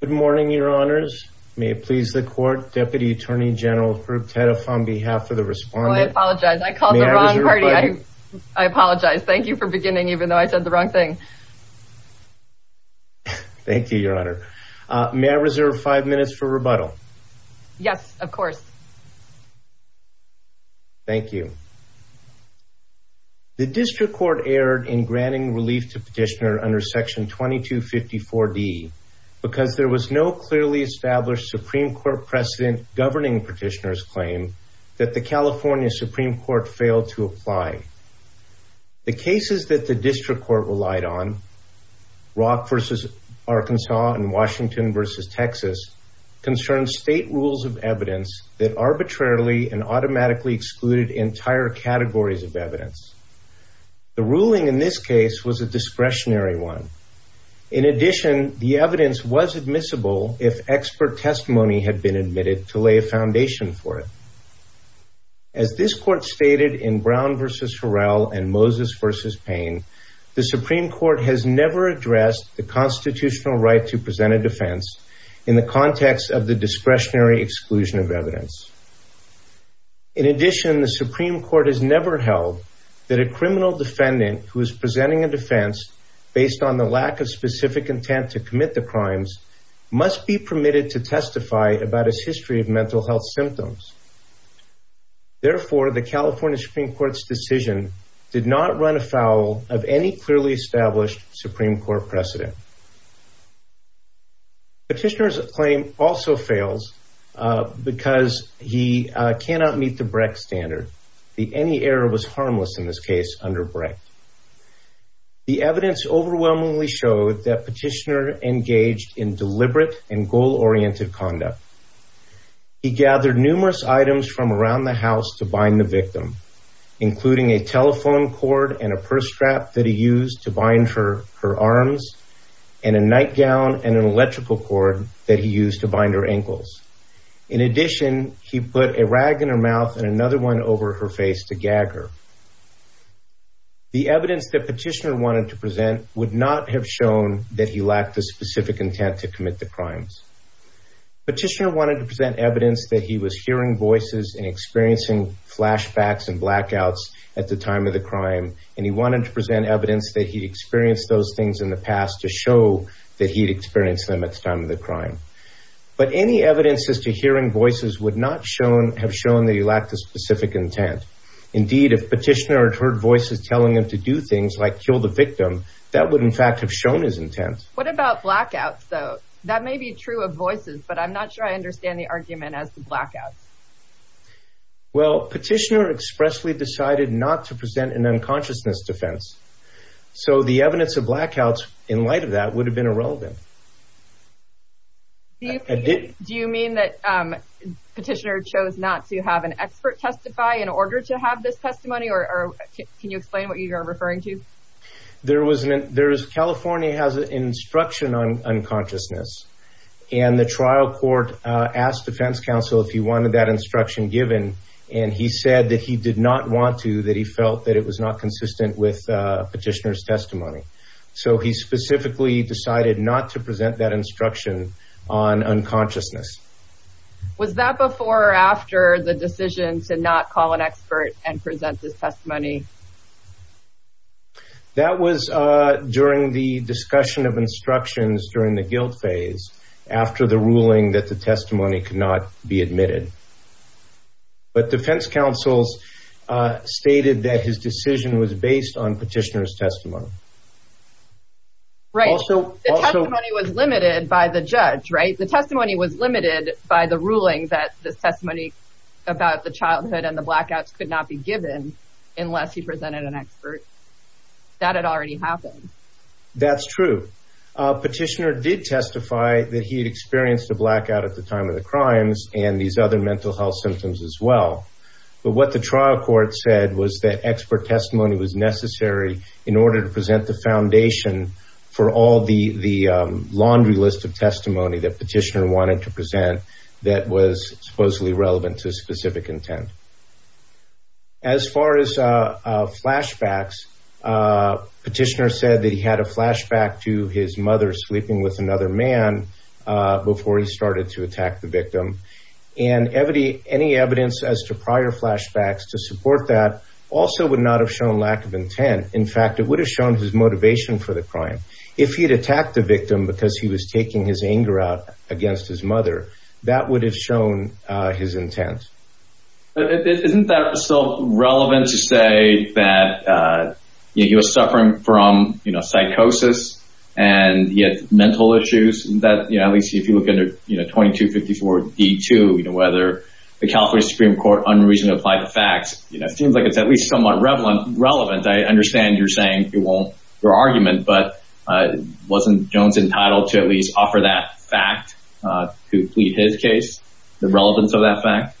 Good morning, Your Honors. May it please the Court, Deputy Attorney General Herb Teddeff on behalf of the Respondent. I apologize. I called the wrong party. I apologize. Thank you for beginning even though I said the wrong thing. Thank you, Your Honor. May I reserve five minutes for rebuttal? Yes, of course. Thank you. The District Court erred in granting relief to Petitioner under Section 2254D because there was no clearly established Supreme Court precedent governing Petitioner's claim that the California Supreme Court failed to apply. The cases that the District Court relied on, Rock v. Arkansas and Washington v. Texas, concerned state rules of evidence that arbitrarily and automatically excluded entire categories of evidence. The ruling in this case was a discretionary one. In addition, the evidence was admissible if expert testimony had been admitted to lay a foundation for it. As this Court stated in Brown v. Horrell and Moses v. Payne, the Supreme Court has never addressed the constitutional right to present a defense in the context of the discretionary exclusion of evidence. In addition, the Supreme Court has never held that a criminal defendant who is presenting a defense based on the lack of specific intent to commit the crimes must be permitted to testify about his history of mental health symptoms. Therefore, the California Supreme Court's decision did not run afoul of any clearly established Supreme Court precedent. Petitioner's claim also fails because he cannot meet the Brecht standard. The any error was harmless in this case under Brecht. The evidence overwhelmingly showed that Petitioner engaged in deliberate and goal-oriented conduct. He gathered numerous items from around the house to bind the victim, including a telephone cord and a purse strap that he used to bind her arms, and a nightgown and an electrical cord that he used to bind her ankles. In addition, he put a rag in her mouth and another one over her face to gag her. The evidence that Petitioner wanted to present would not have shown that he lacked the specific intent to commit the crimes. Petitioner wanted to present evidence that he was hearing voices and experiencing flashbacks and blackouts at the time of the crime, and he wanted to present evidence that he'd experienced those things in the past to show that he'd experienced them at the time of the crime. But any evidence as to hearing voices would not have shown that he lacked the specific intent. Indeed, if Petitioner had heard voices telling him to do things like kill the victim, that would in fact have shown his intent. What about blackouts, though? That may be true of voices, but I'm not sure I understand the argument as to blackouts. Well, Petitioner expressly decided not to present an unconsciousness defense, so the evidence of blackouts in light of that would have been irrelevant. Do you mean that Petitioner chose not to have an expert testify in order to have this testimony, or can you explain what you're referring to? There was an, there is, California has an instruction on unconsciousness, and the trial court asked defense counsel if he wanted that instruction given, and he said that he did not want to, that he felt that it was not consistent with Petitioner's testimony. So he specifically decided not to present that instruction on unconsciousness. Was that before or after the decision to not call an expert and present this testimony? That was during the discussion of instructions during the guilt phase, after the ruling that the testimony could not be admitted. But defense counsels stated that his decision was based on Petitioner's testimony. Right. The testimony was limited by the judge, right? The testimony was limited by the ruling that this testimony about the childhood and the blackouts could not be given unless he presented an expert. That had already happened. That's true. Petitioner did testify that he had experienced a blackout at the time of the crimes and these other mental health symptoms as well. But what the trial court said was that expert testimony was necessary in order to present the foundation for all the laundry list of testimony that Petitioner wanted to present that was supposedly relevant to specific intent. As far as flashbacks, Petitioner said that he had a flashback to his mother sleeping with another man before he started to attack the victim. And any evidence as to prior flashbacks to support that also would not have shown lack of intent. In fact, it would have shown his motivation for the crime. If he had attacked the victim because he was Isn't that still relevant to say that he was suffering from psychosis and he had mental issues that, you know, at least if you look under 2254 D2, you know, whether the California Supreme Court unreasonably applied the facts, you know, it seems like it's at least somewhat relevant. I understand you're saying it won't, your argument, but wasn't Jones entitled to at least offer that fact to plead his case, the relevance of that fact?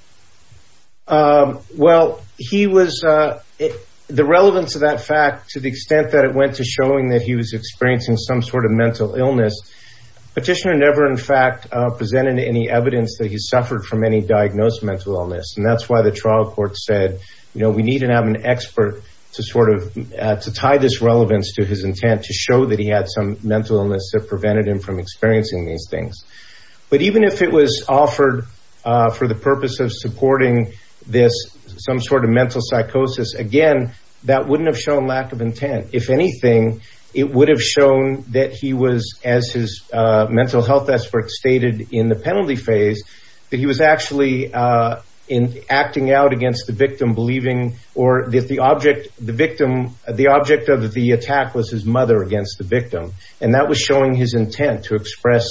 Well, he was the relevance of that fact, to the extent that it went to showing that he was experiencing some sort of mental illness. Petitioner never in fact, presented any evidence that he suffered from any diagnosed mental illness. And that's why the trial court said, you know, we need to have an expert to sort of to tie this relevance to his intent to show that he had some mental illness that prevented him from experiencing these things. But even if it was offered for the purpose of supporting this, some sort of mental psychosis, again, that wouldn't have shown lack of intent. If anything, it would have shown that he was as his mental health experts stated in the penalty phase, that he was actually in acting out against the victim believing or that the object, the victim, the object of the attack was his mother against the victim. And that was showing his intent to express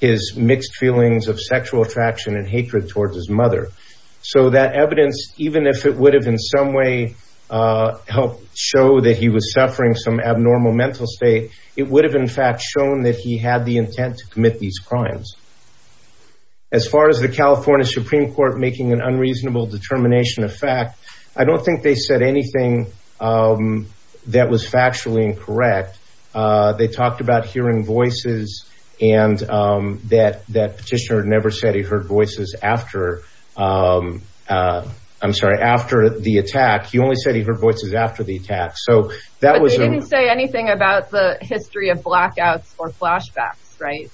his mixed feelings of sexual attraction and hatred towards his mother. So that evidence, even if it would have in some way helped show that he was suffering some abnormal mental state, it would have in fact shown that he had the intent to commit these crimes. As far as the California Supreme Court making an unreasonable determination of fact, I don't think they said anything that was factually incorrect. They talked about hearing voices and that that petitioner never said he heard voices after. I'm sorry, after the attack, he only said he heard voices after the attack. So that was didn't say anything about the history of blackouts or flashbacks, right?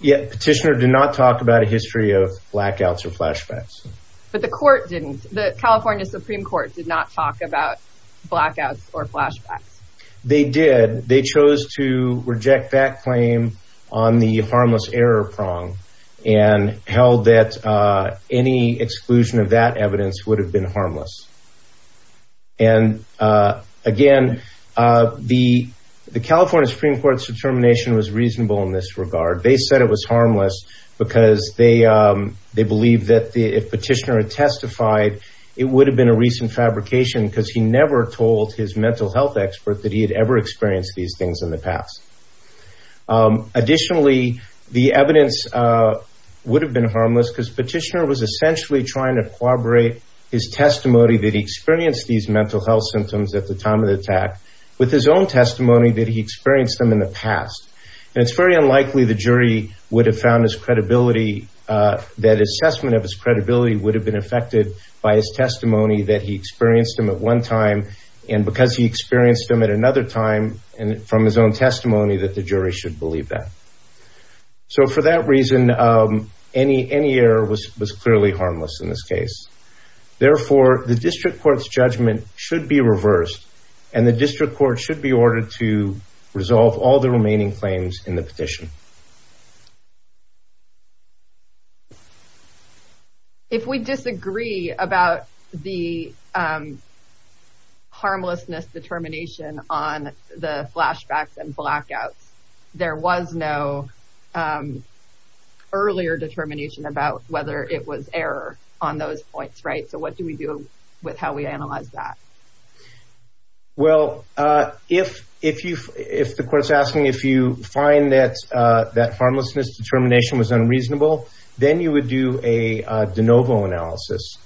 Yeah, petitioner did not talk about a history of flashbacks. But the court didn't. The California Supreme Court did not talk about blackouts or flashbacks. They did. They chose to reject that claim on the harmless error prong and held that any exclusion of that evidence would have been harmless. And again, the the California Supreme Court's determination was reasonable in this regard. They said it was harmless because they they believe that if petitioner had testified, it would have been a recent fabrication because he never told his mental health expert that he had ever experienced these things in the past. Additionally, the evidence would have been harmless because petitioner was essentially trying to corroborate his testimony that he experienced these mental health symptoms at the time of the attack with his own testimony that he experienced them in the past. And it's very unlikely the jury would have found his credibility, that assessment of his credibility would have been affected by his testimony that he experienced them at one time and because he experienced them at another time and from his own testimony that the jury should believe that. So for that reason, any any error was was clearly harmless in this case. Therefore, the district court's judgment should be reversed and the district court should be ordered to resolve all the remaining claims in the petition. If we disagree about the harmlessness determination on the flashbacks and blackouts, there was no earlier determination about whether it was error on those points, right? So what do we do with how we was unreasonable, then you would do a de novo analysis.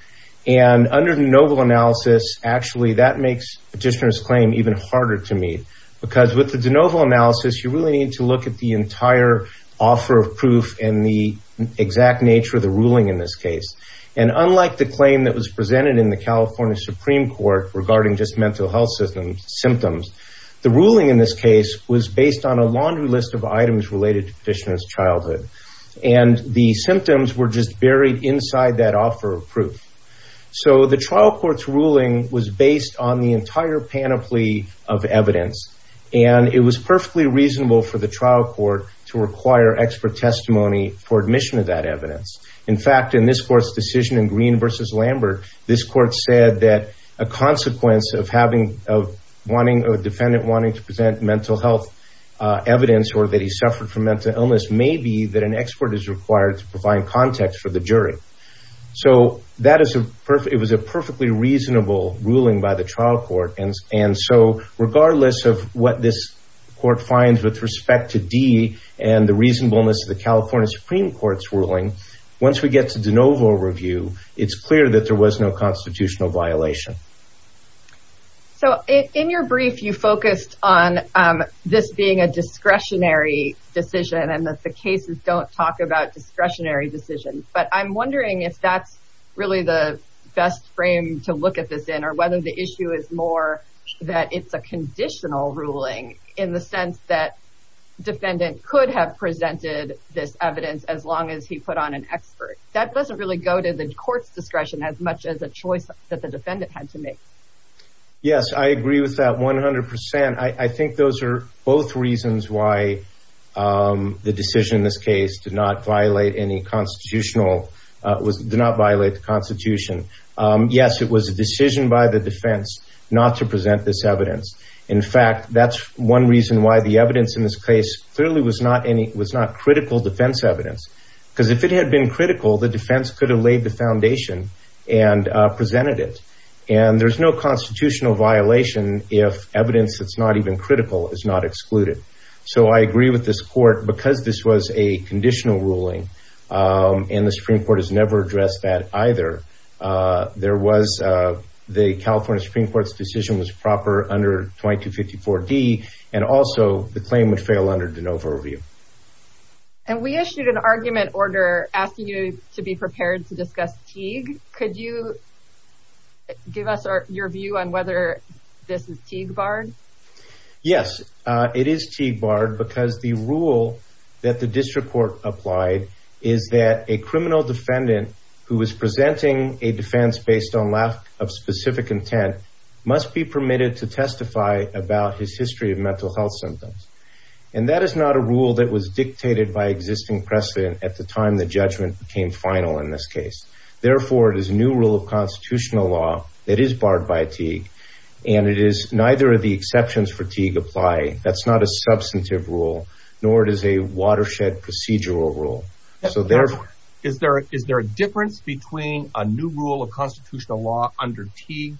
And under the novel analysis, actually, that makes petitioners claim even harder to meet. Because with the de novo analysis, you really need to look at the entire offer of proof and the exact nature of the ruling in this case. And unlike the claim that was presented in the California Supreme Court regarding just mental health systems symptoms, the And the symptoms were just buried inside that offer of proof. So the trial court's ruling was based on the entire panoply of evidence. And it was perfectly reasonable for the trial court to require expert testimony for admission of that evidence. In fact, in this court's decision in green versus Lambert, this court said that a consequence of having a wanting a defendant wanting to present mental health evidence or that he suffered from mental illness may be that an expert is required to provide context for the jury. So that is a perfect it was a perfectly reasonable ruling by the trial court. And and so regardless of what this court finds with respect to D and the reasonableness of the California Supreme Court's ruling, once we get to de novo review, it's clear that there was no constitutional violation. So in your brief, you focused on this being a discretionary decision and that the cases don't talk about discretionary decisions. But I'm wondering if that's really the best frame to look at this in or whether the issue is more that it's a conditional ruling in the sense that defendant could have presented this evidence as long as he put on an expert that doesn't really go to the court's discretion as much as a choice that the defense had to make. Yes, I agree with that 100%. I think those are both reasons why the decision in this case did not violate any constitutional was did not violate the Constitution. Yes, it was a decision by the defense not to present this evidence. In fact, that's one reason why the evidence in this case clearly was not any was not critical defense evidence, because if it had been critical, the defense could have laid the foundation and presented it. And there's no constitutional violation if evidence that's not even critical is not excluded. So I agree with this court because this was a conditional ruling. And the Supreme Court has never addressed that either. There was the California Supreme Court's decision was proper under 2254 D. And also the claim would fail under de novo review. And we issued an argument order asking you to be prepared to discuss Teague. Could you give us your view on whether this is Teague Bard? Yes, it is Teague Bard because the rule that the district court applied is that a criminal defendant who is presenting a defense based on lack of specific intent must be permitted to testify about his history of mental health symptoms. And that is not a rule that was dictated by existing precedent at the time the judgment became final in this case. Therefore, it is a new rule of constitutional law that is barred by Teague. And it is neither of the exceptions for Teague apply. That's not a substantive rule, nor does a watershed procedural rule. So there is there is there a difference between a new rule of Supreme Court law under EDPA?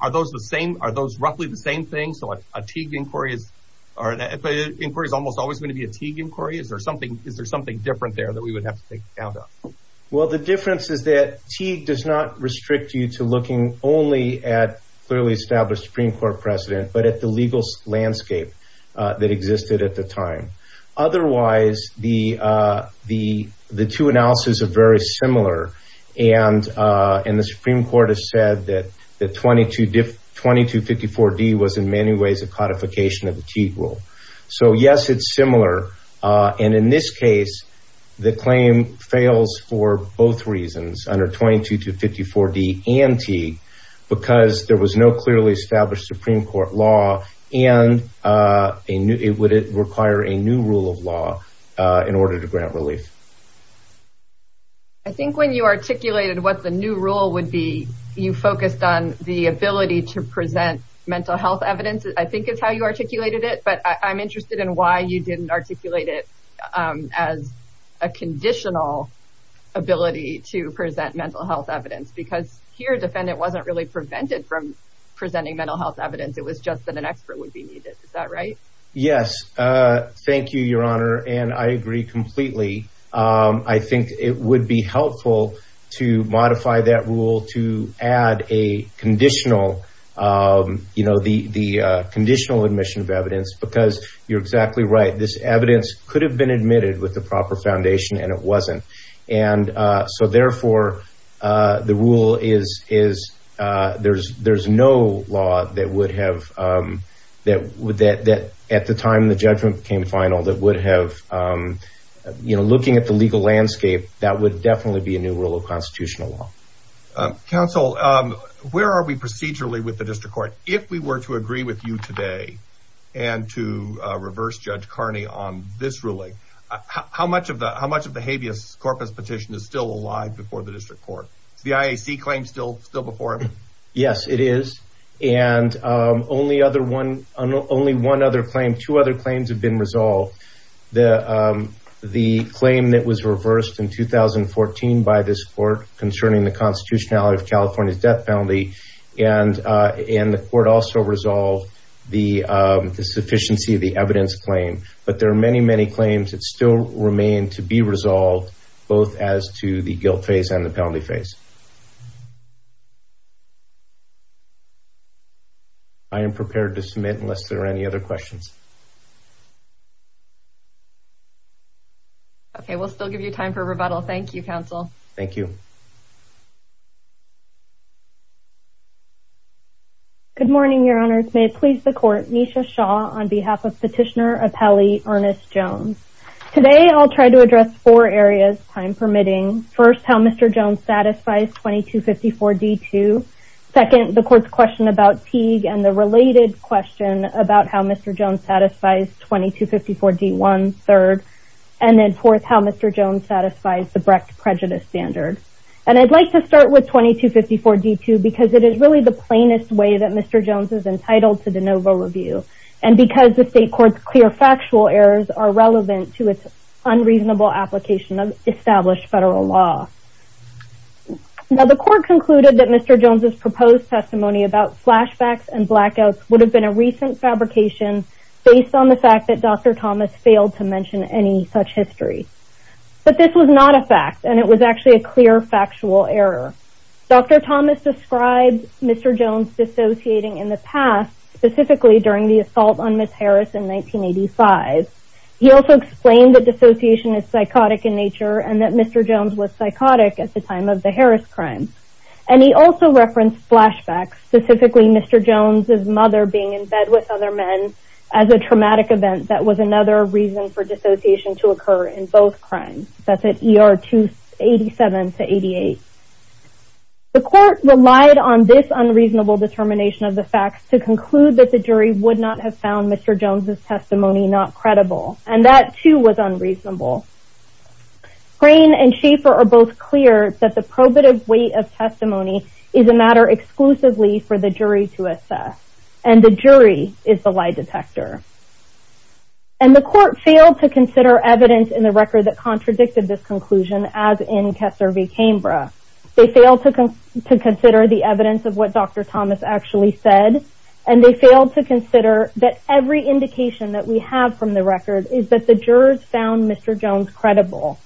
Are those the same? Are those roughly the same thing? So what a Teague inquiry is, or an inquiry is almost always going to be a Teague inquiry? Is there something? Is there something different there that we would have to take account of? Well, the difference is that Teague does not restrict you to looking only at clearly established Supreme Court precedent, but at the Supreme Court has said that the 22, 2254 D was in many ways a codification of the Teague rule. So yes, it's similar. And in this case, the claim fails for both reasons under 22254 D and T, because there was no clearly established Supreme Court law, and it would require a new rule of law in order to grant relief. I think when you articulated what the new rule would be, you focused on the ability to present mental health evidence, I think is how you articulated it. But I'm interested in why you didn't articulate it as a conditional ability to present mental health evidence, because here defendant wasn't really prevented from presenting mental health evidence, it was just that an expert would be needed. Is that right? Yes. Thank you, Your Honor. And I agree completely. I think it would be helpful to modify that rule to add a conditional, you know, the conditional admission of evidence, because you're exactly right, this evidence could have been admitted with the proper foundation, and it wasn't. And so therefore, the rule is, there's no law that would have, that at the time the judgment came final, that would have, you know, looking at the legal landscape, that would definitely be a new rule of constitutional law. Counsel, where are we procedurally with the district court? If we were to agree with you today, and to reverse Judge Carney on this ruling, how much of the habeas corpus petition is still alive before the district court? Is the IAC claim still before it? Yes, it is. And only one other claim, two other claims have been resolved. The claim that was reversed in 2014 by this court concerning the constitutionality of California's death penalty, and the court also resolved the sufficiency of the evidence claim. But there are many, many other claims that remain to be resolved, both as to the guilt phase and the penalty phase. I am prepared to submit unless there are any other questions. Okay, we'll still give you time for rebuttal. Thank you, counsel. Thank you. Good morning, Your Honors. May it please the court, Nisha Shaw on behalf of Petitioner Appellee Ernest Jones. Today, I'll try to address four areas, time permitting. First, how Mr. Jones satisfies 2254-D-2. Second, the court's question about Teague and the related question about how Mr. Jones satisfies 2254-D-1. Third, and then fourth, how Mr. Jones satisfies the Brecht prejudice standard. And I'd like to start with 2254-D-1. I'm going to start with 2254-D-2 because it is really the plainest way that Mr. Jones is entitled to the NOVA review, and because the state court's clear factual errors are relevant to its unreasonable application of established federal law. Now, the court concluded that Mr. Jones' proposed testimony about flashbacks and blackouts would have been a recent fabrication based on the fact that Dr. Thomas failed to mention any such history. But this was not a fact, and it was actually a clear factual error. Dr. Thomas described Mr. Jones dissociating in the past, specifically during the assault on Ms. Harris in 1985. He also explained that dissociation is psychotic in nature and that Mr. Jones was psychotic at the time of the Harris crime. And he also referenced flashbacks, specifically Mr. Jones' mother being in bed with other men as a traumatic event that was another reason for dissociation to occur in both crimes. That's at ER 287-88. The court relied on this unreasonable determination of the facts to conclude that the jury would not have found Mr. Jones' testimony not credible, and that, too, was unreasonable. Grain and Schaeffer are both clear that the probative weight of testimony is a matter exclusively for the jury to assess, and the jury is the lie detector. And the court failed to consider evidence in the record that contradicted this conclusion, as in Kessler v. Cambra. They failed to consider the evidence of what Dr. Thomas actually said, and they failed to consider that every indication that we have from the record is that the jurors found Mr. Jones credible.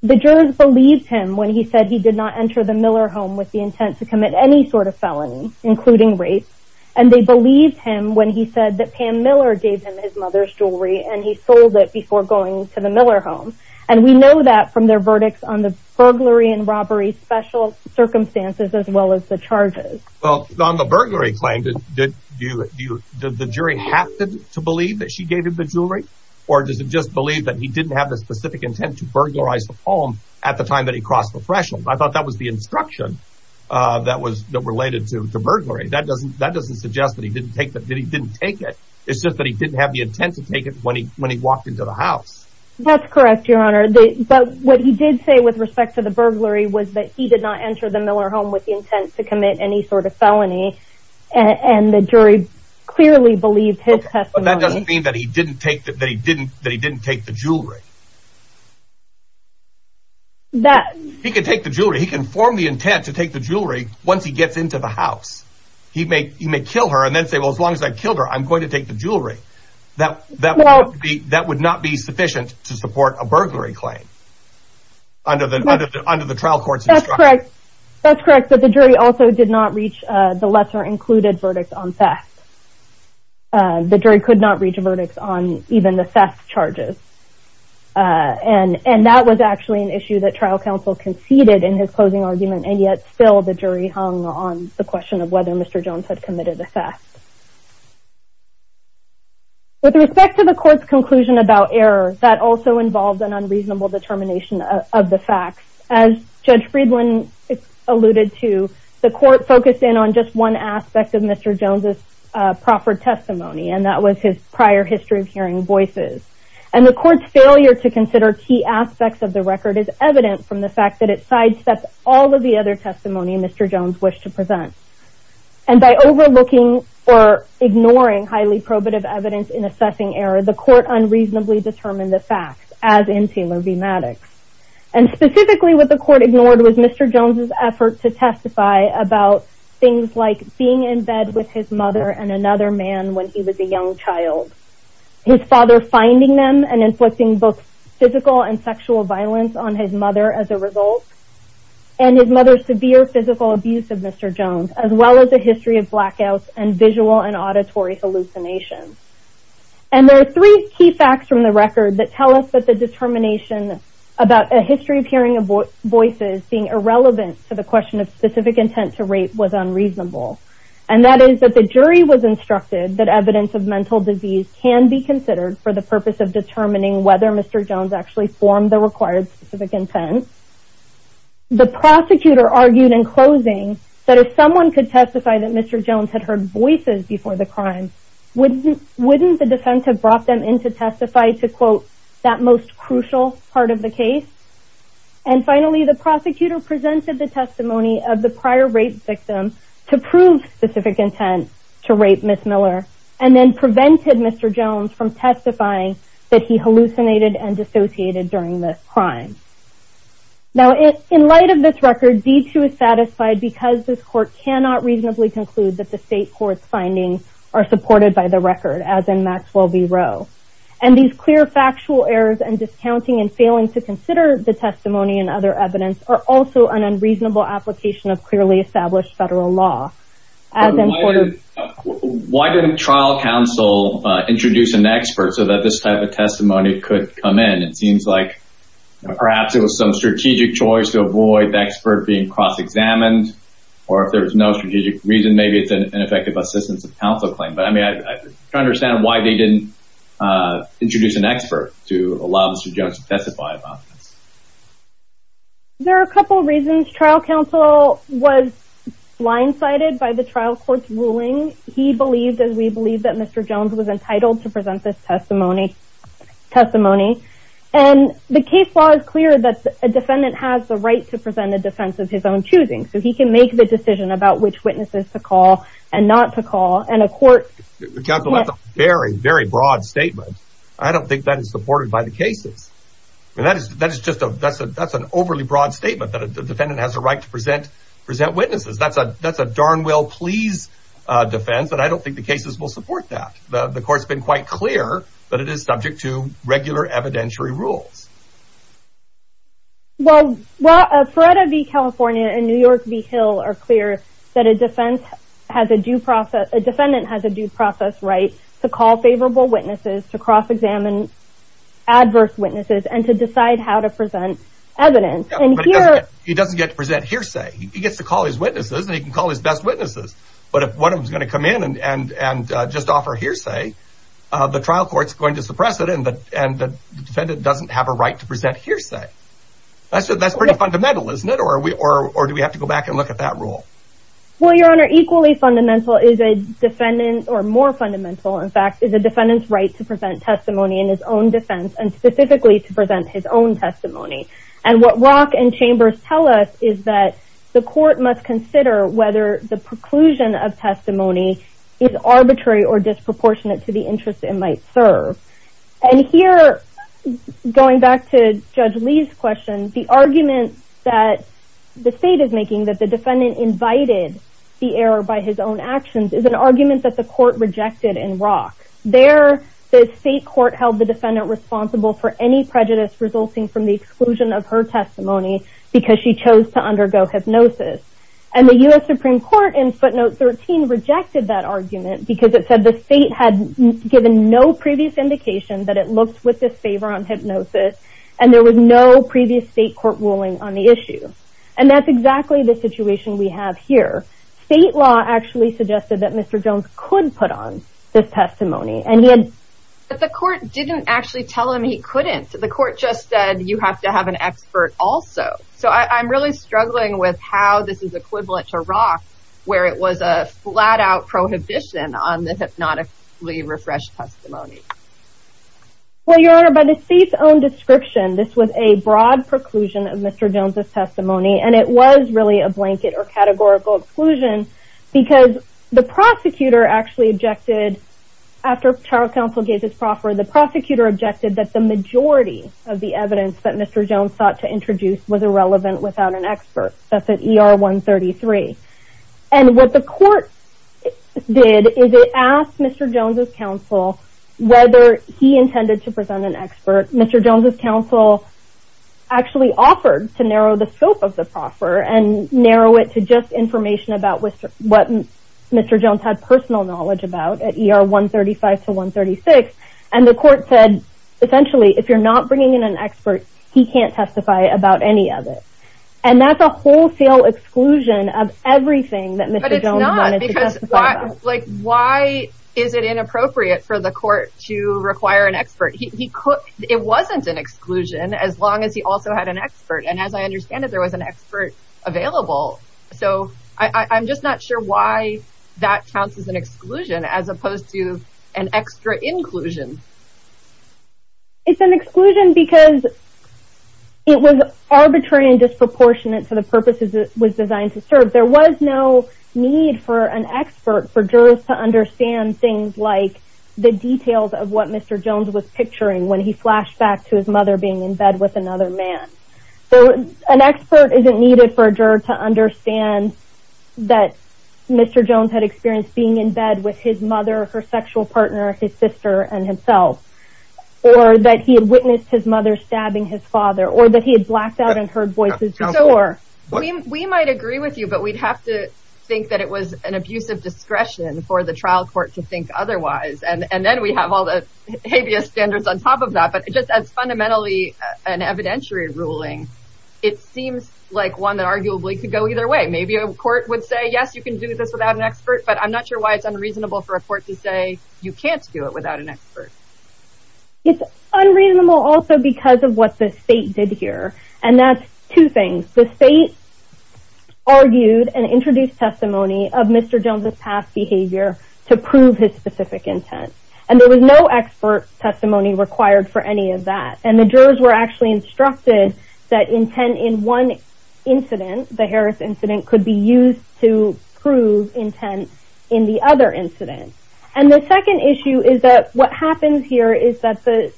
The jurors believed him when he said he did not enter the Miller home with the intent to commit any sort of felony, including rape, and they believed him when he said that Pam Miller gave him his mother's jewelry and he sold it before going to the Miller home. And we know that from their verdicts on the burglary and robbery special circumstances, as well as the charges. Well, on the burglary claim, did the jury have to believe that she gave him the jewelry, or does it just believe that he didn't have the specific intent to burglarize the home at the time that he crossed the threshold? I thought that was the instruction that was related to the burglary. That doesn't suggest that he didn't take it. It's just that he didn't have the intent to take it when he walked into the house. That's correct, Your Honor. But what he did say with respect to the burglary was that he did not enter the Miller home with the intent to commit any sort of felony, and the jury clearly believed his testimony. But that doesn't mean that he didn't take the jewelry. He can take the jewelry. He can form the intent to take the jewelry once he gets into the house. He may kill her and then say, well, as long as I killed her, I'm going to take the jewelry. That would not be sufficient to support a burglary claim under the trial court's instruction. That's correct, but the jury also did not reach the lesser-included verdict on theft. The jury could not reach a verdict on even the theft charges. And that was actually an issue that trial counsel conceded in his closing argument, and yet still the jury hung on the question of whether Mr. Jones had committed a theft. With respect to the court's conclusion about error, that also involved an unreasonable determination of the facts. As Judge Friedland alluded to, the court focused in on just one aspect of Mr. Jones' proffered testimony, and that was his prior history of hearing voices. And the court's failure to consider key aspects of the record is evident from the fact that it sidesteps all of the other testimony Mr. Jones wished to present. And by overlooking or ignoring highly probative evidence in assessing error, the court unreasonably determined the facts, as in Taylor v. Maddox. And specifically what the court ignored was Mr. Jones' effort to testify about things like being in bed with his mother and another man when he was a young child, his father finding them and inflicting both physical and sexual violence on his mother as a result, and his mother's severe physical abuse of Mr. Jones, as well as the history of blackouts and visual and auditory hallucinations. And there are three key facts from the record that tell us that the determination about a history of hearing voices being irrelevant to the question of specific intent to rape was unreasonable. And that is that the jury was instructed that evidence of mental disease can be considered for the purpose of determining whether Mr. Jones actually formed the required specific intent. The prosecutor argued in closing that if someone could testify that Mr. Jones had heard voices before the crime, wouldn't the defense have brought them in to testify to quote, that most crucial part of the case? And finally, the prosecutor presented the testimony of the prior rape victim to prove specific intent to rape Ms. Miller, and then prevented Mr. Jones from testifying that he hallucinated and dissociated during this crime. Now, in light of this record, D2 is satisfied because this court cannot reasonably conclude that the state court's findings are supported by the record as in Maxwell v. Rowe. And these clear factual errors and discounting and failing to consider the testimony and other evidence are also an unreasonable application of clearly established federal law. Why didn't trial counsel introduce an expert so that this type of testimony could come in? It seems like perhaps it was some strategic choice to avoid the expert being cross-examined. Or if there was no strategic reason, maybe it's an ineffective assistance of counsel claim. But I mean, I understand why they didn't introduce an expert to allow Mr. Jones to testify about this. There are a couple reasons. Trial counsel was blindsided by the trial court's ruling. He believed, as we believe, that Mr. Jones was entitled to present this testimony. And the case law is clear that a defendant has the right to present a defense of his own choosing. So he can make the decision about which witnesses to call and not to call. And a court... That's a very, very broad statement. I don't think that is supported by the cases. That's an overly broad statement that a defendant has a right to present witnesses. That's a darn well-pleased defense, but I don't think the cases will support that. The court's been quite clear that it is subject to regular evidentiary rules. Well, Feretta v. California and New York v. Hill are clear that a defendant has a due process right to call favorable witnesses, to cross-examine adverse witnesses, and to decide how to present evidence. But he doesn't get to present hearsay. He gets to call his witnesses, and he can call his best witnesses. But if one of them is going to come in and just suppress it, and the defendant doesn't have a right to present hearsay, that's pretty fundamental, isn't it? Or do we have to go back and look at that rule? Well, Your Honor, equally fundamental is a defendant's, or more fundamental, in fact, is a defendant's right to present testimony in his own defense, and specifically to present his own testimony. And what Rock and Chambers tell us is that the court must consider whether the preclusion of testimony is And here, going back to Judge Lee's question, the argument that the State is making that the defendant invited the error by his own actions is an argument that the court rejected in Rock. There, the State court held the defendant responsible for any prejudice resulting from the exclusion of her testimony because she chose to favor on hypnosis, and there was no previous State court ruling on the issue. And that's exactly the situation we have here. State law actually suggested that Mr. Jones could put on this testimony, and he had But the court didn't actually tell him he couldn't. The court just said, you have to have an expert also. So I'm really struggling with how this is equivalent to Rock, where it was a flat-out prohibition on the hypnotically refreshed testimony. Well, Your Honor, by the State's own description, this was a broad preclusion of Mr. Jones' testimony, and it was really a blanket or categorical exclusion because the prosecutor actually objected, after trial counsel gave his proffer, the prosecutor objected that the majority of the evidence that Mr. Jones sought to introduce was irrelevant without an expert. That's at ER 133. And what the court did is it asked Mr. Jones' counsel whether he intended to present an expert. Mr. Jones' counsel actually offered to narrow the scope of the proffer and narrow it to just information about what Mr. Jones had personal knowledge about at ER 135 to 136, and the court said, essentially, if you're not bringing in an expert, he can't testify about any of it. And that's a wholesale exclusion of everything that Mr. Jones wanted to testify about. But it's not, because why is it inappropriate for the court to require an expert? It wasn't an exclusion as long as he also had an expert, and as I understand it, there was an expert available. So I'm just not sure why that counts as an exclusion as opposed to an extra inclusion. It's an exclusion because it was arbitrary and disproportionate to the purposes it was designed to serve. There was no need for an expert for jurors to understand things like the details of what Mr. Jones was picturing when he flashed back to his mother being in bed with another man. So an expert isn't needed for a juror to understand that Mr. Jones had experienced being in bed with his mother, her sexual partner, his sister, and himself, or that he had witnessed his mother stabbing his father, or that he had blacked out and heard voices. We might agree with you, but we'd have to think that it was an abuse of discretion for the trial court to think otherwise. And then we have all the habeas standards on top of that, but just as fundamentally an evidentiary ruling, it seems like one that arguably could go either way. Maybe a court would say, yes, you can do this without an expert, but I'm not sure why it's unreasonable for a court to say you can't do it without an expert. It's unreasonable also because of what the state did here, and that's two things. The state argued and introduced testimony of Mr. Jones' past behavior to prove his specific intent, and there was no expert testimony required for any of that. And the jurors were actually instructed that intent in one incident, the Harris incident, could be used to prove intent in the other incident. And the second issue is that what happens here is that the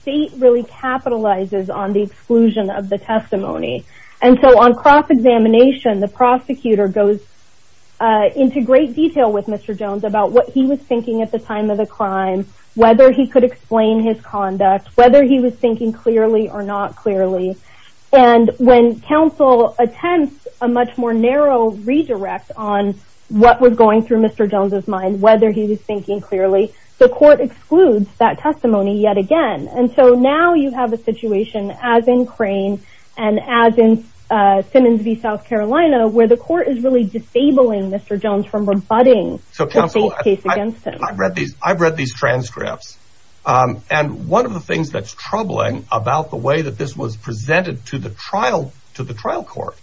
state really capitalizes on the exclusion of the testimony. And so on cross-examination, the prosecutor goes into great detail with Mr. Jones about what he was thinking at the time of the crime, whether he could explain his conduct, whether he was thinking clearly or not clearly. And when counsel attempts a much more narrow redirect on what was going through Mr. Jones' mind, whether he was thinking clearly, the court excludes that testimony yet again. And so now you have a situation, as in Crane and as in Simmons v. South Carolina, where the court is really disabling Mr. Jones from rebutting the case against him. I've read these transcripts, and one of the things that's troubling about the way that this was presented to the trial court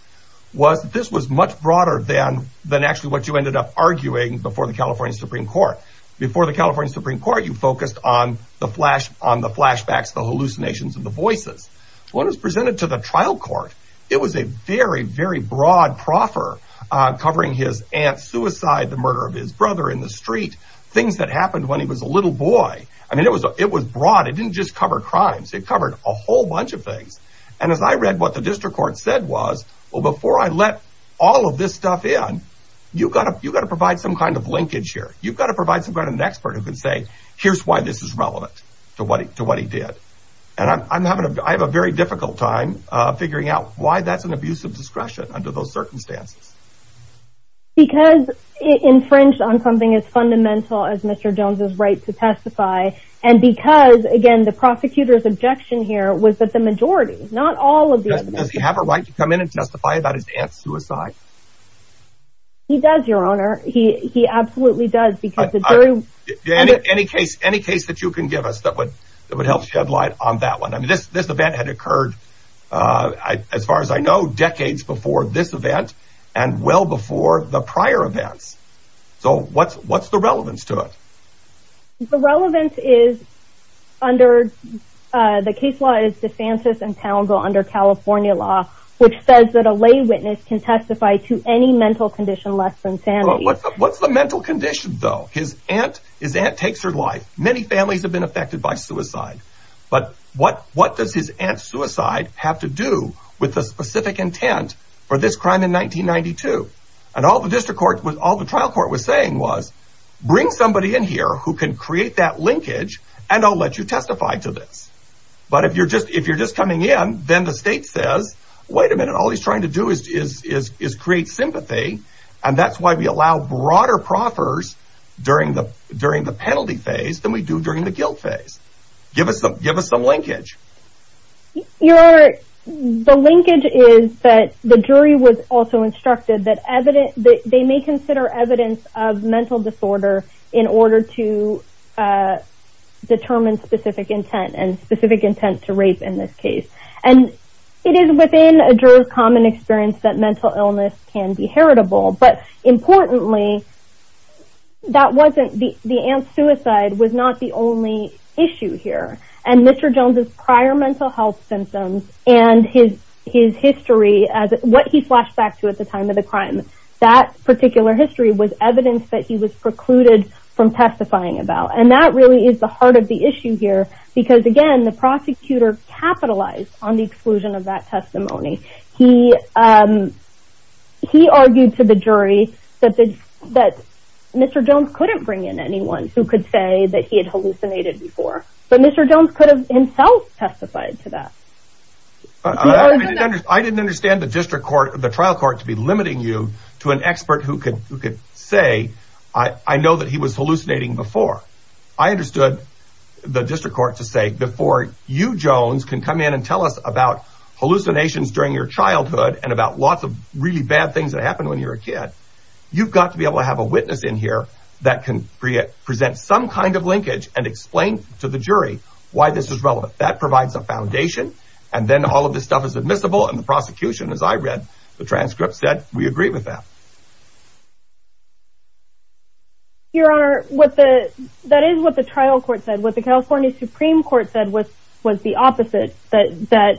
was that this was much broader than actually what you ended up arguing before the California Supreme Court. Before the California Supreme Court, you focused on the flashbacks, the hallucinations, and the voices. When it was presented to the trial court, it was a very, very broad proffer covering his aunt's suicide, the murder of his brother in the street, things that happened when he was a little boy. I mean, it was broad. It didn't just cover crimes. It covered a whole bunch of things. And as I read what the district court said was, well, before I let all of this stuff in, you've got to provide some kind of linkage here. You've got to provide some kind of an expert who can say, here's why this is relevant to what he did. And I'm having a very difficult time figuring out why that's an abuse of discretion under those circumstances. Because it infringed on something as fundamental as Mr. Jones' right to testify, and because, again, the prosecutor's objection here was that the majority, not all of the… Does he have a right to come in and testify about his aunt's suicide? He does, Your Honor. He absolutely does. Any case that you can give us that would help shed light on that one. I mean, this event had occurred, as far as I know, decades before this event and well before the prior events. So, what's the relevance to it? The relevance is under… the case law is DeFantis and Townsville under California law, which says that a lay witness can testify to any mental condition less than sanity. What's the mental condition, though? His aunt takes her life. Many families have been affected by suicide. But what does his aunt's suicide have to do with the specific intent for this crime in 1992? And all the district court… all the trial court was saying was, bring somebody in here who can create that linkage and I'll let you testify to this. But if you're just coming in, then the state says, wait a minute, all he's trying to do is create sympathy. And that's why we allow broader proffers during the penalty phase than we do during the guilt phase. Give us some linkage. Your Honor, the linkage is that the jury was also instructed that they may consider evidence of mental disorder in order to determine specific intent and specific intent to rape in this case. And it is within a juror's common experience that mental illness can be heritable. But importantly, that wasn't… the aunt's suicide was not the only issue here. And Mr. Jones' prior mental health symptoms and his history, what he flashed back to at the time of the crime, that particular history was evidence that he was precluded from testifying about. And that really is the heart of the issue here. Because again, the prosecutor capitalized on the exclusion of that testimony. He argued to the jury that Mr. Jones couldn't bring in anyone who could say that he had hallucinated before. But Mr. Jones could have himself testified to that. I didn't understand the trial court to be limiting you to an expert who could say, I know that he was hallucinating before. I understood the district court to say, before you, Jones, can come in and tell us about hallucinations during your childhood and about lots of really bad things that happened when you were a kid, you've got to be able to have a witness in here that can present some kind of linkage and explain to the jury why this is relevant. That provides a foundation. And then all of this stuff is admissible. And the prosecution, as I read the transcripts, said, we agree with that. Your Honor, that is what the trial court said. What the California Supreme Court said was the opposite, that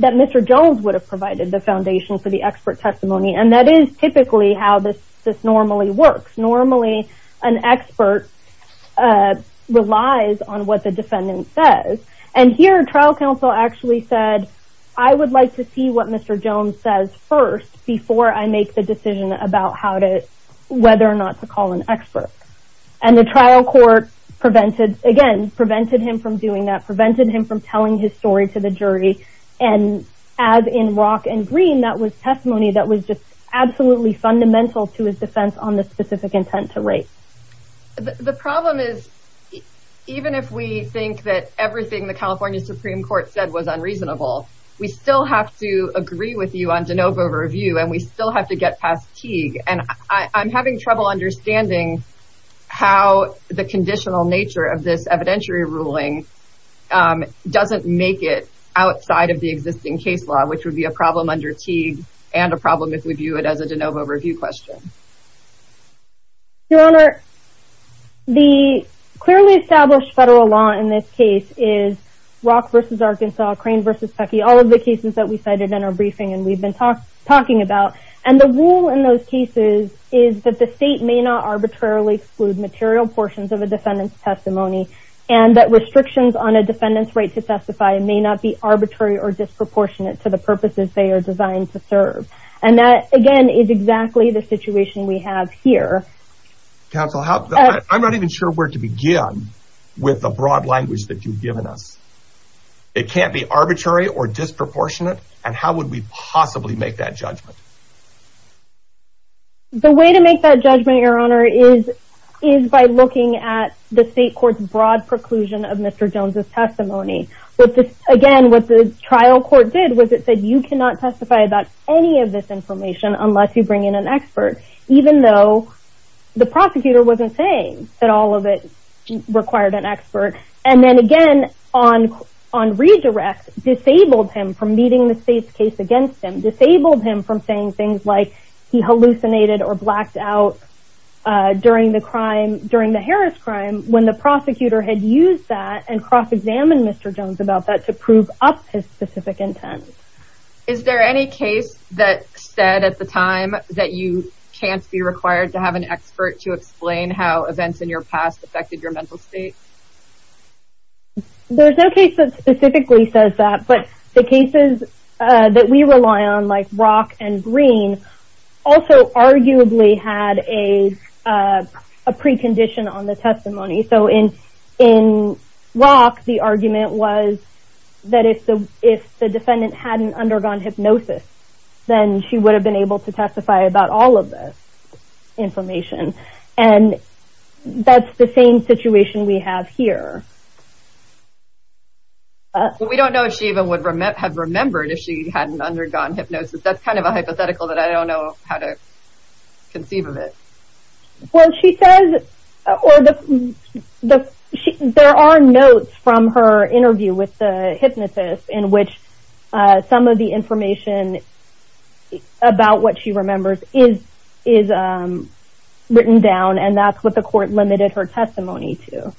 Mr. Jones would have provided the foundation for the expert testimony. And that is typically how this normally works. Normally, an expert relies on what the defendant says. And here, trial counsel actually said, I would like to see what Mr. Jones says first before I make the decision about whether or not to call an expert. And the trial court, again, prevented him from doing that, prevented him from telling his story to the jury. And as in Rock and Green, that was testimony that was just absolutely fundamental to his defense on the specific intent to rape. The problem is, even if we think that everything the California Supreme Court said was unreasonable, we still have to agree with you on de novo review, and we still have to get past Teague. And I'm having trouble understanding how the conditional nature of this evidentiary ruling doesn't make it outside of the existing case law, which would be a problem under Teague and a problem if we view it as a de novo review question. Your Honor, the clearly established federal law in this case is Rock v. Arkansas, Crane v. Pecky, all of the cases that we cited in our briefing and we've been talking about. And the rule in those cases is that the state may not arbitrarily exclude material portions of a defendant's testimony and that restrictions on a defendant's right to testify may not be arbitrary or disproportionate to the purposes they are designed to serve. And that, again, is exactly the situation we have here. Counsel, I'm not even sure where to begin with the broad language that you've given us. It can't be arbitrary or disproportionate, and how would we possibly make that judgment? The way to make that judgment, Your Honor, is by looking at the state court's broad preclusion of Mr. Jones' testimony. Again, what the trial court did was it said you cannot testify about any of this information unless you bring in an expert, even though the prosecutor wasn't saying that all of it required an expert. And then again, on redirect, disabled him from meeting the state's case against him, disabled him from saying things like he hallucinated or blacked out during the Harris crime when the prosecutor had used that and cross-examined Mr. Jones about that to prove up his specific intent. Is there any case that said at the time that you can't be required to have an expert to explain how events in your past affected your mental state? There's no case that specifically says that, but the cases that we rely on, like Rock and Green, also arguably had a precondition on the testimony. So in Rock, the argument was that if the defendant hadn't undergone hypnosis, then she would have been able to testify about all of this information. And that's the same situation we have here. But we don't know if she even would have remembered if she hadn't undergone hypnosis. That's kind of a hypothetical that I don't know how to conceive of it. There are notes from her interview with the hypnotist in which some of the information about what she remembers is written down, and that's what the court limited her testimony to.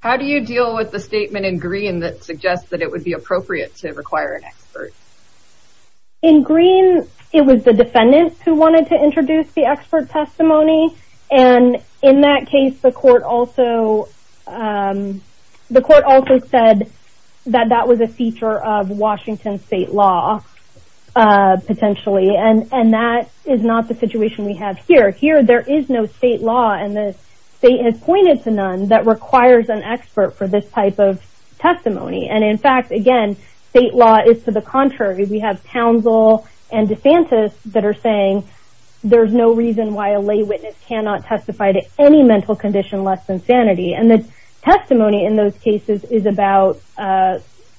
How do you deal with the statement in Green that suggests that it would be appropriate to require an expert? In Green, it was the defendant who wanted to introduce the expert testimony, and in that case, the court also said that that was a feature of Washington state law, potentially. And that is not the situation we have here. Here, there is no state law, and the state has pointed to none, that requires an expert for this type of testimony. And in fact, again, state law is to the contrary. We have Townsville and DeSantis that are saying there's no reason why a lay witness cannot testify to any mental condition less than sanity. And the testimony in those cases is about,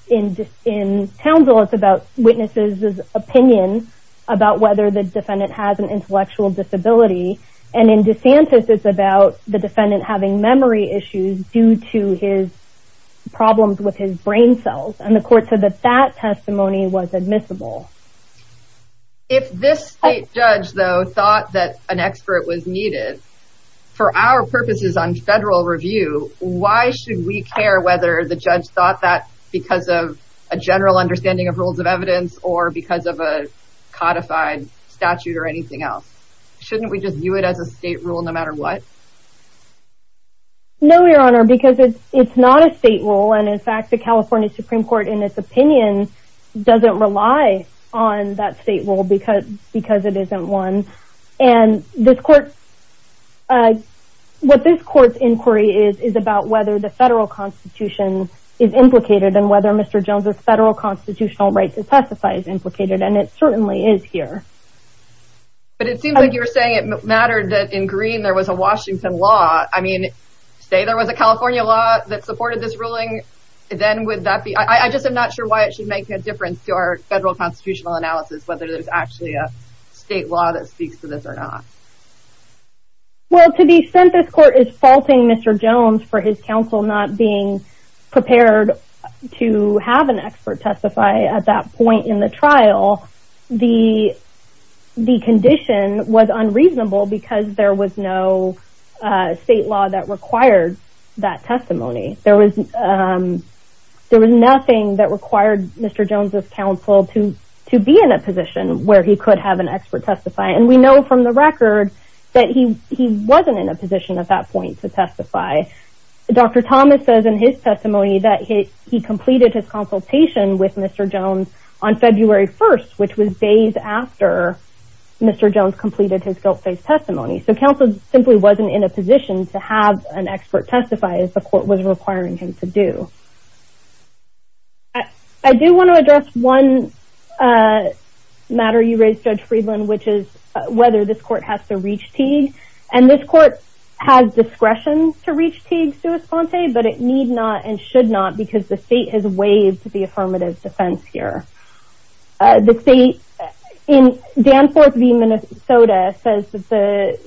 in Townsville, it's about witnesses' opinion about whether the defendant has an intellectual disability. And in DeSantis, it's about the defendant having memory issues due to his problems with his brain cells. And the court said that that testimony was admissible. If this state judge, though, thought that an expert was needed, for our purposes on federal review, why should we care whether the judge thought that because of a general understanding of rules of evidence or because of a codified statute or anything else? Shouldn't we just view it as a state rule no matter what? No, Your Honor, because it's not a state rule. And in fact, the California Supreme Court, in its opinion, doesn't rely on that state rule because it isn't one. And what this court's inquiry is, is about whether the federal constitution is implicated and whether Mr. Jones' federal constitutional right to testify is implicated. And it certainly is here. But it seems like you're saying it mattered that in Green there was a Washington law. I mean, say there was a California law that supported this ruling, then would that be... I just am not sure why it should make a difference to our federal constitutional analysis, whether there's actually a state law that speaks to this or not. Well, to the extent this court is faulting Mr. Jones for his counsel not being prepared to have an expert testify at that point in the trial, the condition was unreasonable because there was no state law that required that testimony. There was nothing that required Mr. Jones' counsel to be in a position where he could have an expert testify. And we know from the record that he wasn't in a position at that point to testify. Dr. Thomas says in his testimony that he completed his consultation with Mr. Jones on February 1st, which was days after Mr. Jones completed his guilt-based testimony. So counsel simply wasn't in a position to have an expert testify as the court was requiring him to do. I do want to address one matter you raised, Judge Friedland, which is whether this court has to reach Teague. And this court has discretion to reach Teague sua sponte, but it need not and should not because the state has waived the affirmative defense here. Danforth v. Minnesota says that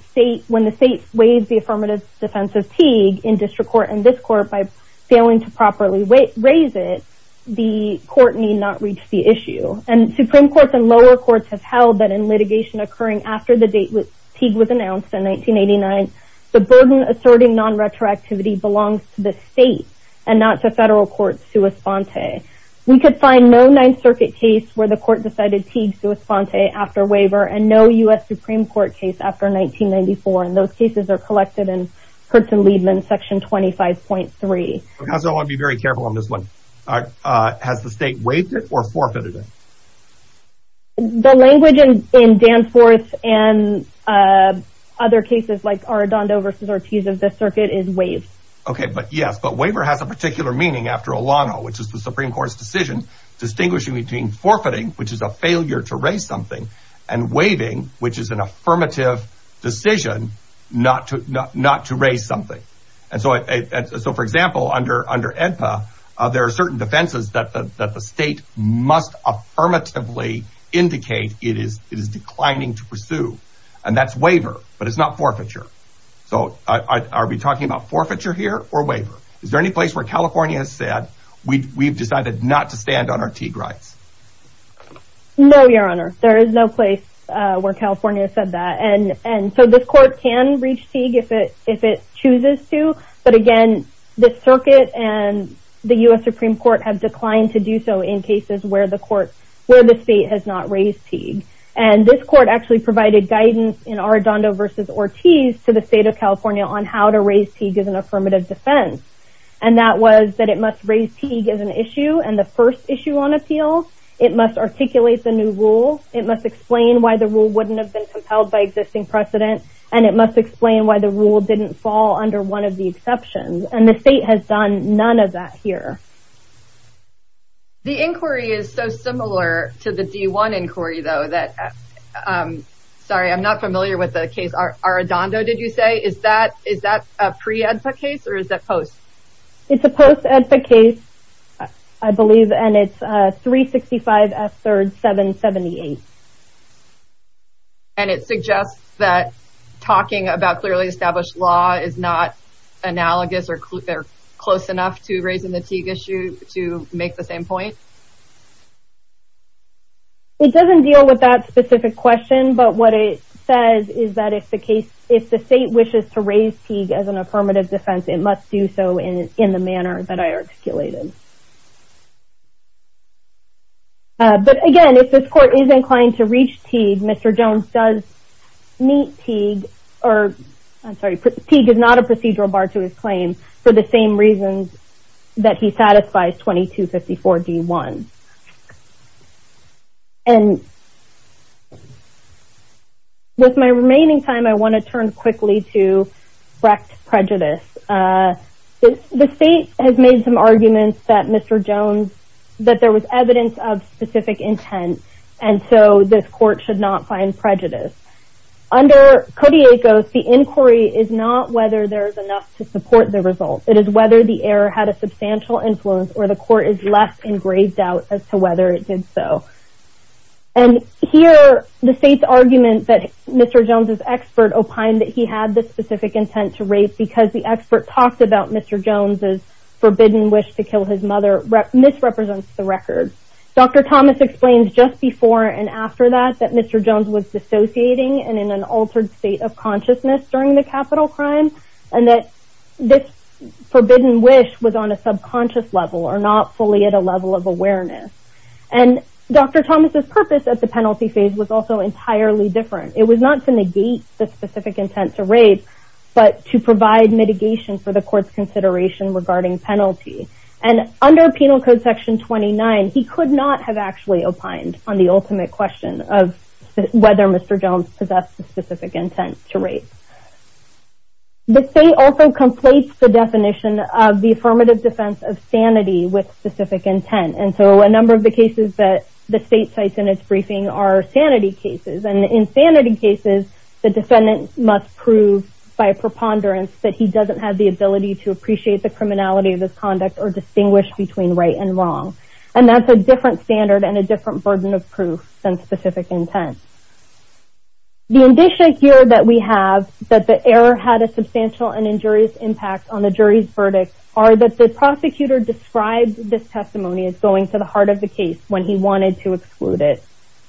when the state waives the affirmative defense of Teague in district court and this court by failing to properly raise it, the court need not reach the issue. And Supreme Courts and lower courts have held that in litigation occurring after the date Teague was announced in 1989, the burden asserting non-retroactivity belongs to the state and not to federal courts sua sponte. We could find no Ninth Circuit case where the court decided Teague sua sponte after waiver and no U.S. Supreme Court case after 1994. And those cases are collected in Hudson-Liebman section 25.3. Counsel, I want to be very careful on this one. Has the state waived it or forfeited it? The language in Danforth and other cases like Arradondo v. Ortiz of this circuit is waived. Okay, but yes, but waiver has a particular meaning after Olano, which is the Supreme Court's decision, distinguishing between forfeiting, which is a failure to raise something, and waiving, which is an affirmative decision not to raise something. And so, for example, under ENPA, there are certain defenses that the state must affirmatively indicate it is declining to pursue. And that's waiver, but it's not forfeiture. So are we talking about forfeiture here or waiver? Is there any place where California has said, we've decided not to stand on our Teague rights? No, Your Honor, there is no place where California said that. And so this court can reach Teague if it chooses to. But again, this circuit and the U.S. Supreme Court have declined to do so in cases where the state has not raised Teague. And this court actually provided guidance in Arradondo v. Ortiz to the state of California on how to raise Teague as an affirmative defense. And that was that it must raise Teague as an issue and the first issue on appeal. It must articulate the new rule. It must explain why the rule wouldn't have been compelled by existing precedent. And it must explain why the rule didn't fall under one of the exceptions. And the state has done none of that here. The inquiry is so similar to the D1 inquiry, though, that, sorry, I'm not familiar with the case. Arradondo, did you say? Is that a pre-EDPA case or is that post? It's a post-EDPA case, I believe, and it's 365F3rd778. And it suggests that talking about clearly established law is not analogous or close enough to raising the Teague issue to make the same point? It doesn't deal with that specific question. But what it says is that if the state wishes to raise Teague as an affirmative defense, it must do so in the manner that I articulated. But, again, if this court is inclined to reach Teague, Mr. Jones does meet Teague or, I'm sorry, Teague is not a procedural bar to his claim for the same reasons that he satisfies 2254D1. And with my remaining time, I want to turn quickly to direct prejudice. The state has made some arguments that Mr. Jones, that there was evidence of specific intent, and so this court should not find prejudice. Under Codiacos, the inquiry is not whether there is enough to support the result. It is whether the error had a substantial influence or the court is less engraved out as to whether it did so. And here, the state's argument that Mr. Jones' expert opined that he had this specific intent to raise because the expert talked about Mr. Jones' forbidden wish to kill his mother misrepresents the record. Dr. Thomas explains just before and after that that Mr. Jones was dissociating and in an altered state of consciousness during the capital crime, and that this forbidden wish was on a subconscious level or not fully at a level of awareness. And Dr. Thomas' purpose at the penalty phase was also entirely different. It was not to negate the specific intent to raise, but to provide mitigation for the court's consideration regarding penalty. And under Penal Code Section 29, he could not have actually opined on the ultimate question of whether Mr. Jones possessed a specific intent to raise. The state also completes the definition of the affirmative defense of sanity with specific intent, and so a number of the cases that the state cites in its briefing are sanity cases. And in sanity cases, the defendant must prove by preponderance that he doesn't have the ability to appreciate the criminality of this conduct or distinguish between right and wrong. And that's a different standard and a different burden of proof than specific intent. The indicia here that we have that the error had a substantial and injurious impact on the jury's verdict are that the prosecutor described this testimony as going to the heart of the case when he wanted to exclude it.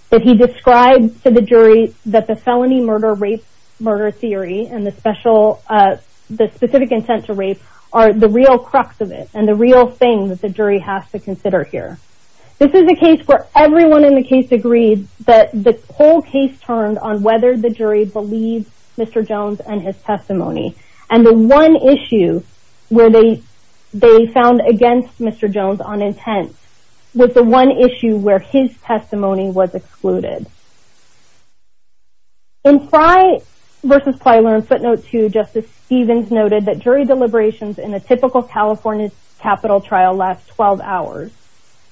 That he described to the jury that the felony murder-rape-murder theory and the specific intent to rape are the real crux of it and the real thing that the jury has to consider here. This is a case where everyone in the case agreed that the whole case turned on whether the jury believed Mr. Jones and his testimony. And the one issue where they found against Mr. Jones on intent was the one issue where his testimony was excluded. In Pry vs. Plyler in footnote 2, Justice Stevens noted that jury deliberations in a typical California capital trial last 12 hours.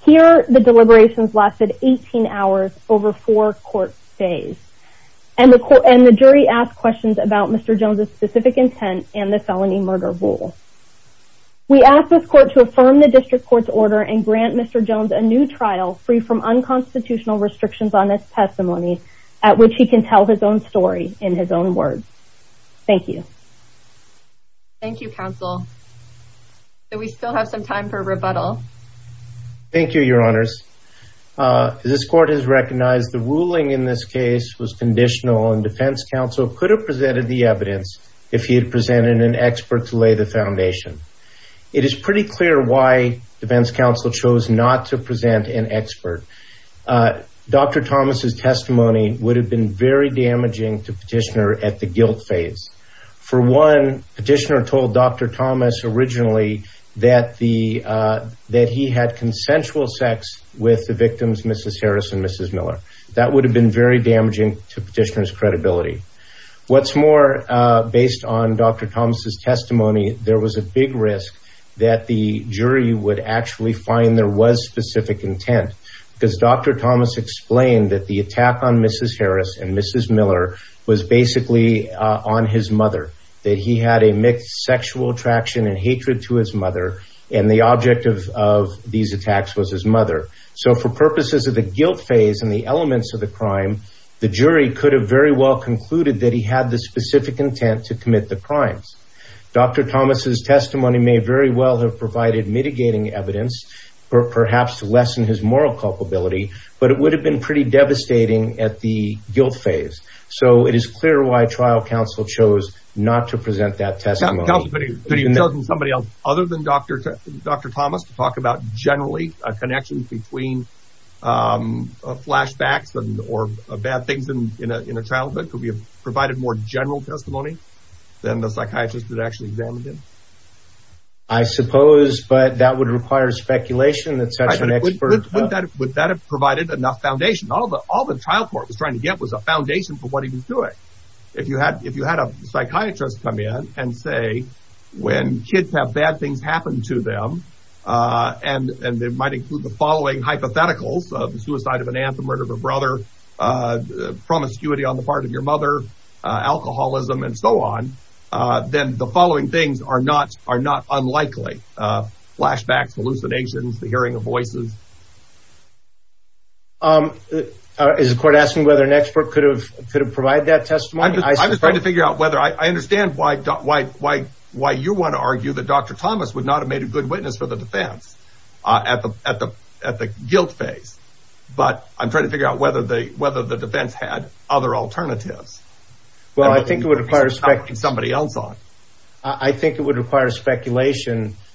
Here, the deliberations lasted 18 hours over four court days. And the jury asked questions about Mr. Jones' specific intent and the felony murder rule. We ask this court to affirm the district court's order and grant Mr. Jones a new trial free from unconstitutional restrictions on his testimony at which he can tell his own story in his own words. Thank you. Thank you, counsel. Do we still have some time for rebuttal? Thank you, your honors. This court has recognized the ruling in this case was conditional and defense counsel could have presented the evidence if he had presented an expert to lay the foundation. It is pretty clear why defense counsel chose not to present an expert. Dr. Thomas' testimony would have been very damaging to petitioner at the guilt phase. For one, petitioner told Dr. Thomas originally that he had consensual sex with the victims, Mrs. Harris and Mrs. Miller. That would have been very damaging to petitioner's credibility. What's more, based on Dr. Thomas' testimony, there was a big risk that the jury would actually find there was specific intent. Because Dr. Thomas explained that the attack on Mrs. Harris and Mrs. Miller was basically on his mother. That he had a mixed sexual attraction and hatred to his mother and the object of these attacks was his mother. So for purposes of the guilt phase and the elements of the crime, the jury could have very well concluded that he had the specific intent to commit the crimes. Dr. Thomas' testimony may very well have provided mitigating evidence, perhaps to lessen his moral culpability, but it would have been pretty devastating at the guilt phase. So it is clear why trial counsel chose not to present that testimony. Other than Dr. Thomas to talk about generally connections between flashbacks or bad things in a childhood, could we have provided more general testimony than the psychiatrist had actually examined him? I suppose, but that would require speculation. Would that have provided enough foundation? All the trial court was trying to get was a foundation for what he was doing. If you had a psychiatrist come in and say, when kids have bad things happen to them, and they might include the following hypotheticals, the suicide of an aunt, the murder of a brother, promiscuity on the part of your mother, alcoholism, and so on, then the following things are not unlikely. Flashbacks, hallucinations, the hearing of voices. Is the court asking whether an expert could have provided that testimony? I understand why you want to argue that Dr. Thomas would not have made a good witness for the defense at the guilt phase, but I'm trying to figure out whether the defense had other alternatives. I think it would require speculation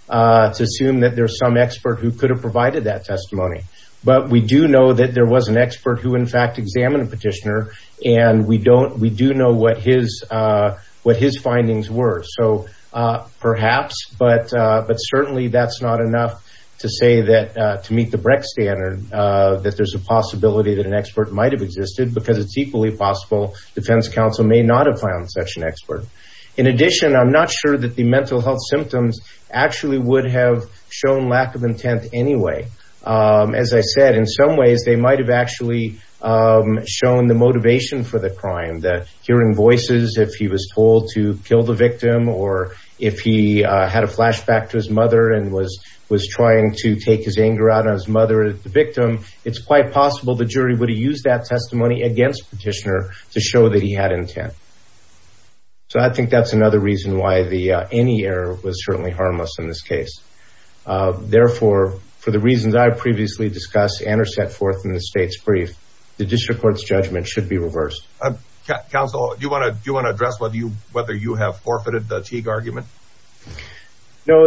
to assume that there's some expert who could have provided that testimony. But we do know that there was an expert who, in fact, examined the petitioner, and we do know what his findings were. So, perhaps, but certainly that's not enough to say that, to meet the Brecht standard, that there's a possibility that an expert might have existed, because it's equally possible the defense counsel may not have found such an expert. In addition, I'm not sure that the mental health symptoms actually would have shown lack of intent anyway. As I said, in some ways, they might have actually shown the motivation for the crime, that hearing voices, if he was told to kill the victim, or if he had a flashback to his mother and was trying to take his anger out on his mother, the victim, it's quite possible the jury would have used that testimony against the petitioner to show that he had intent. So, I think that's another reason why any error was certainly harmless in this case. Therefore, for the reasons I previously discussed and are set forth in the state's brief, the district court's judgment should be reversed. Counsel, do you want to address whether you have forfeited the Teague argument? No,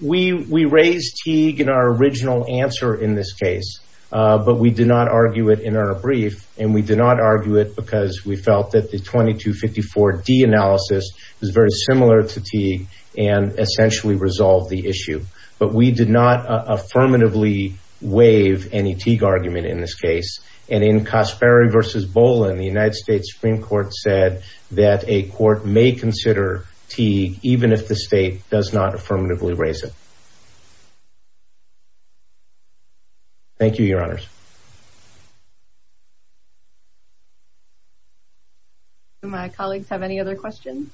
we raised Teague in our original answer in this case, but we did not argue it in our brief, and we did not argue it because we felt that the 2254D analysis was very similar to Teague and essentially resolved the issue. But we did not affirmatively waive any Teague argument in this case, and in Casperi v. Bolin, the United States Supreme Court said that a court may consider Teague, even if the state does not affirmatively raise it. Thank you, Your Honors. Do my colleagues have any other questions?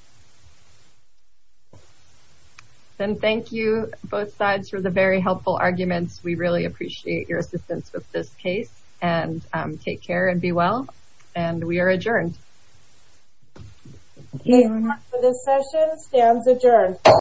Then thank you, both sides, for the very helpful arguments. We really appreciate your assistance with this case, and take care and be well, and we are adjourned. Okay, we're adjourned for this session. Stands adjourned.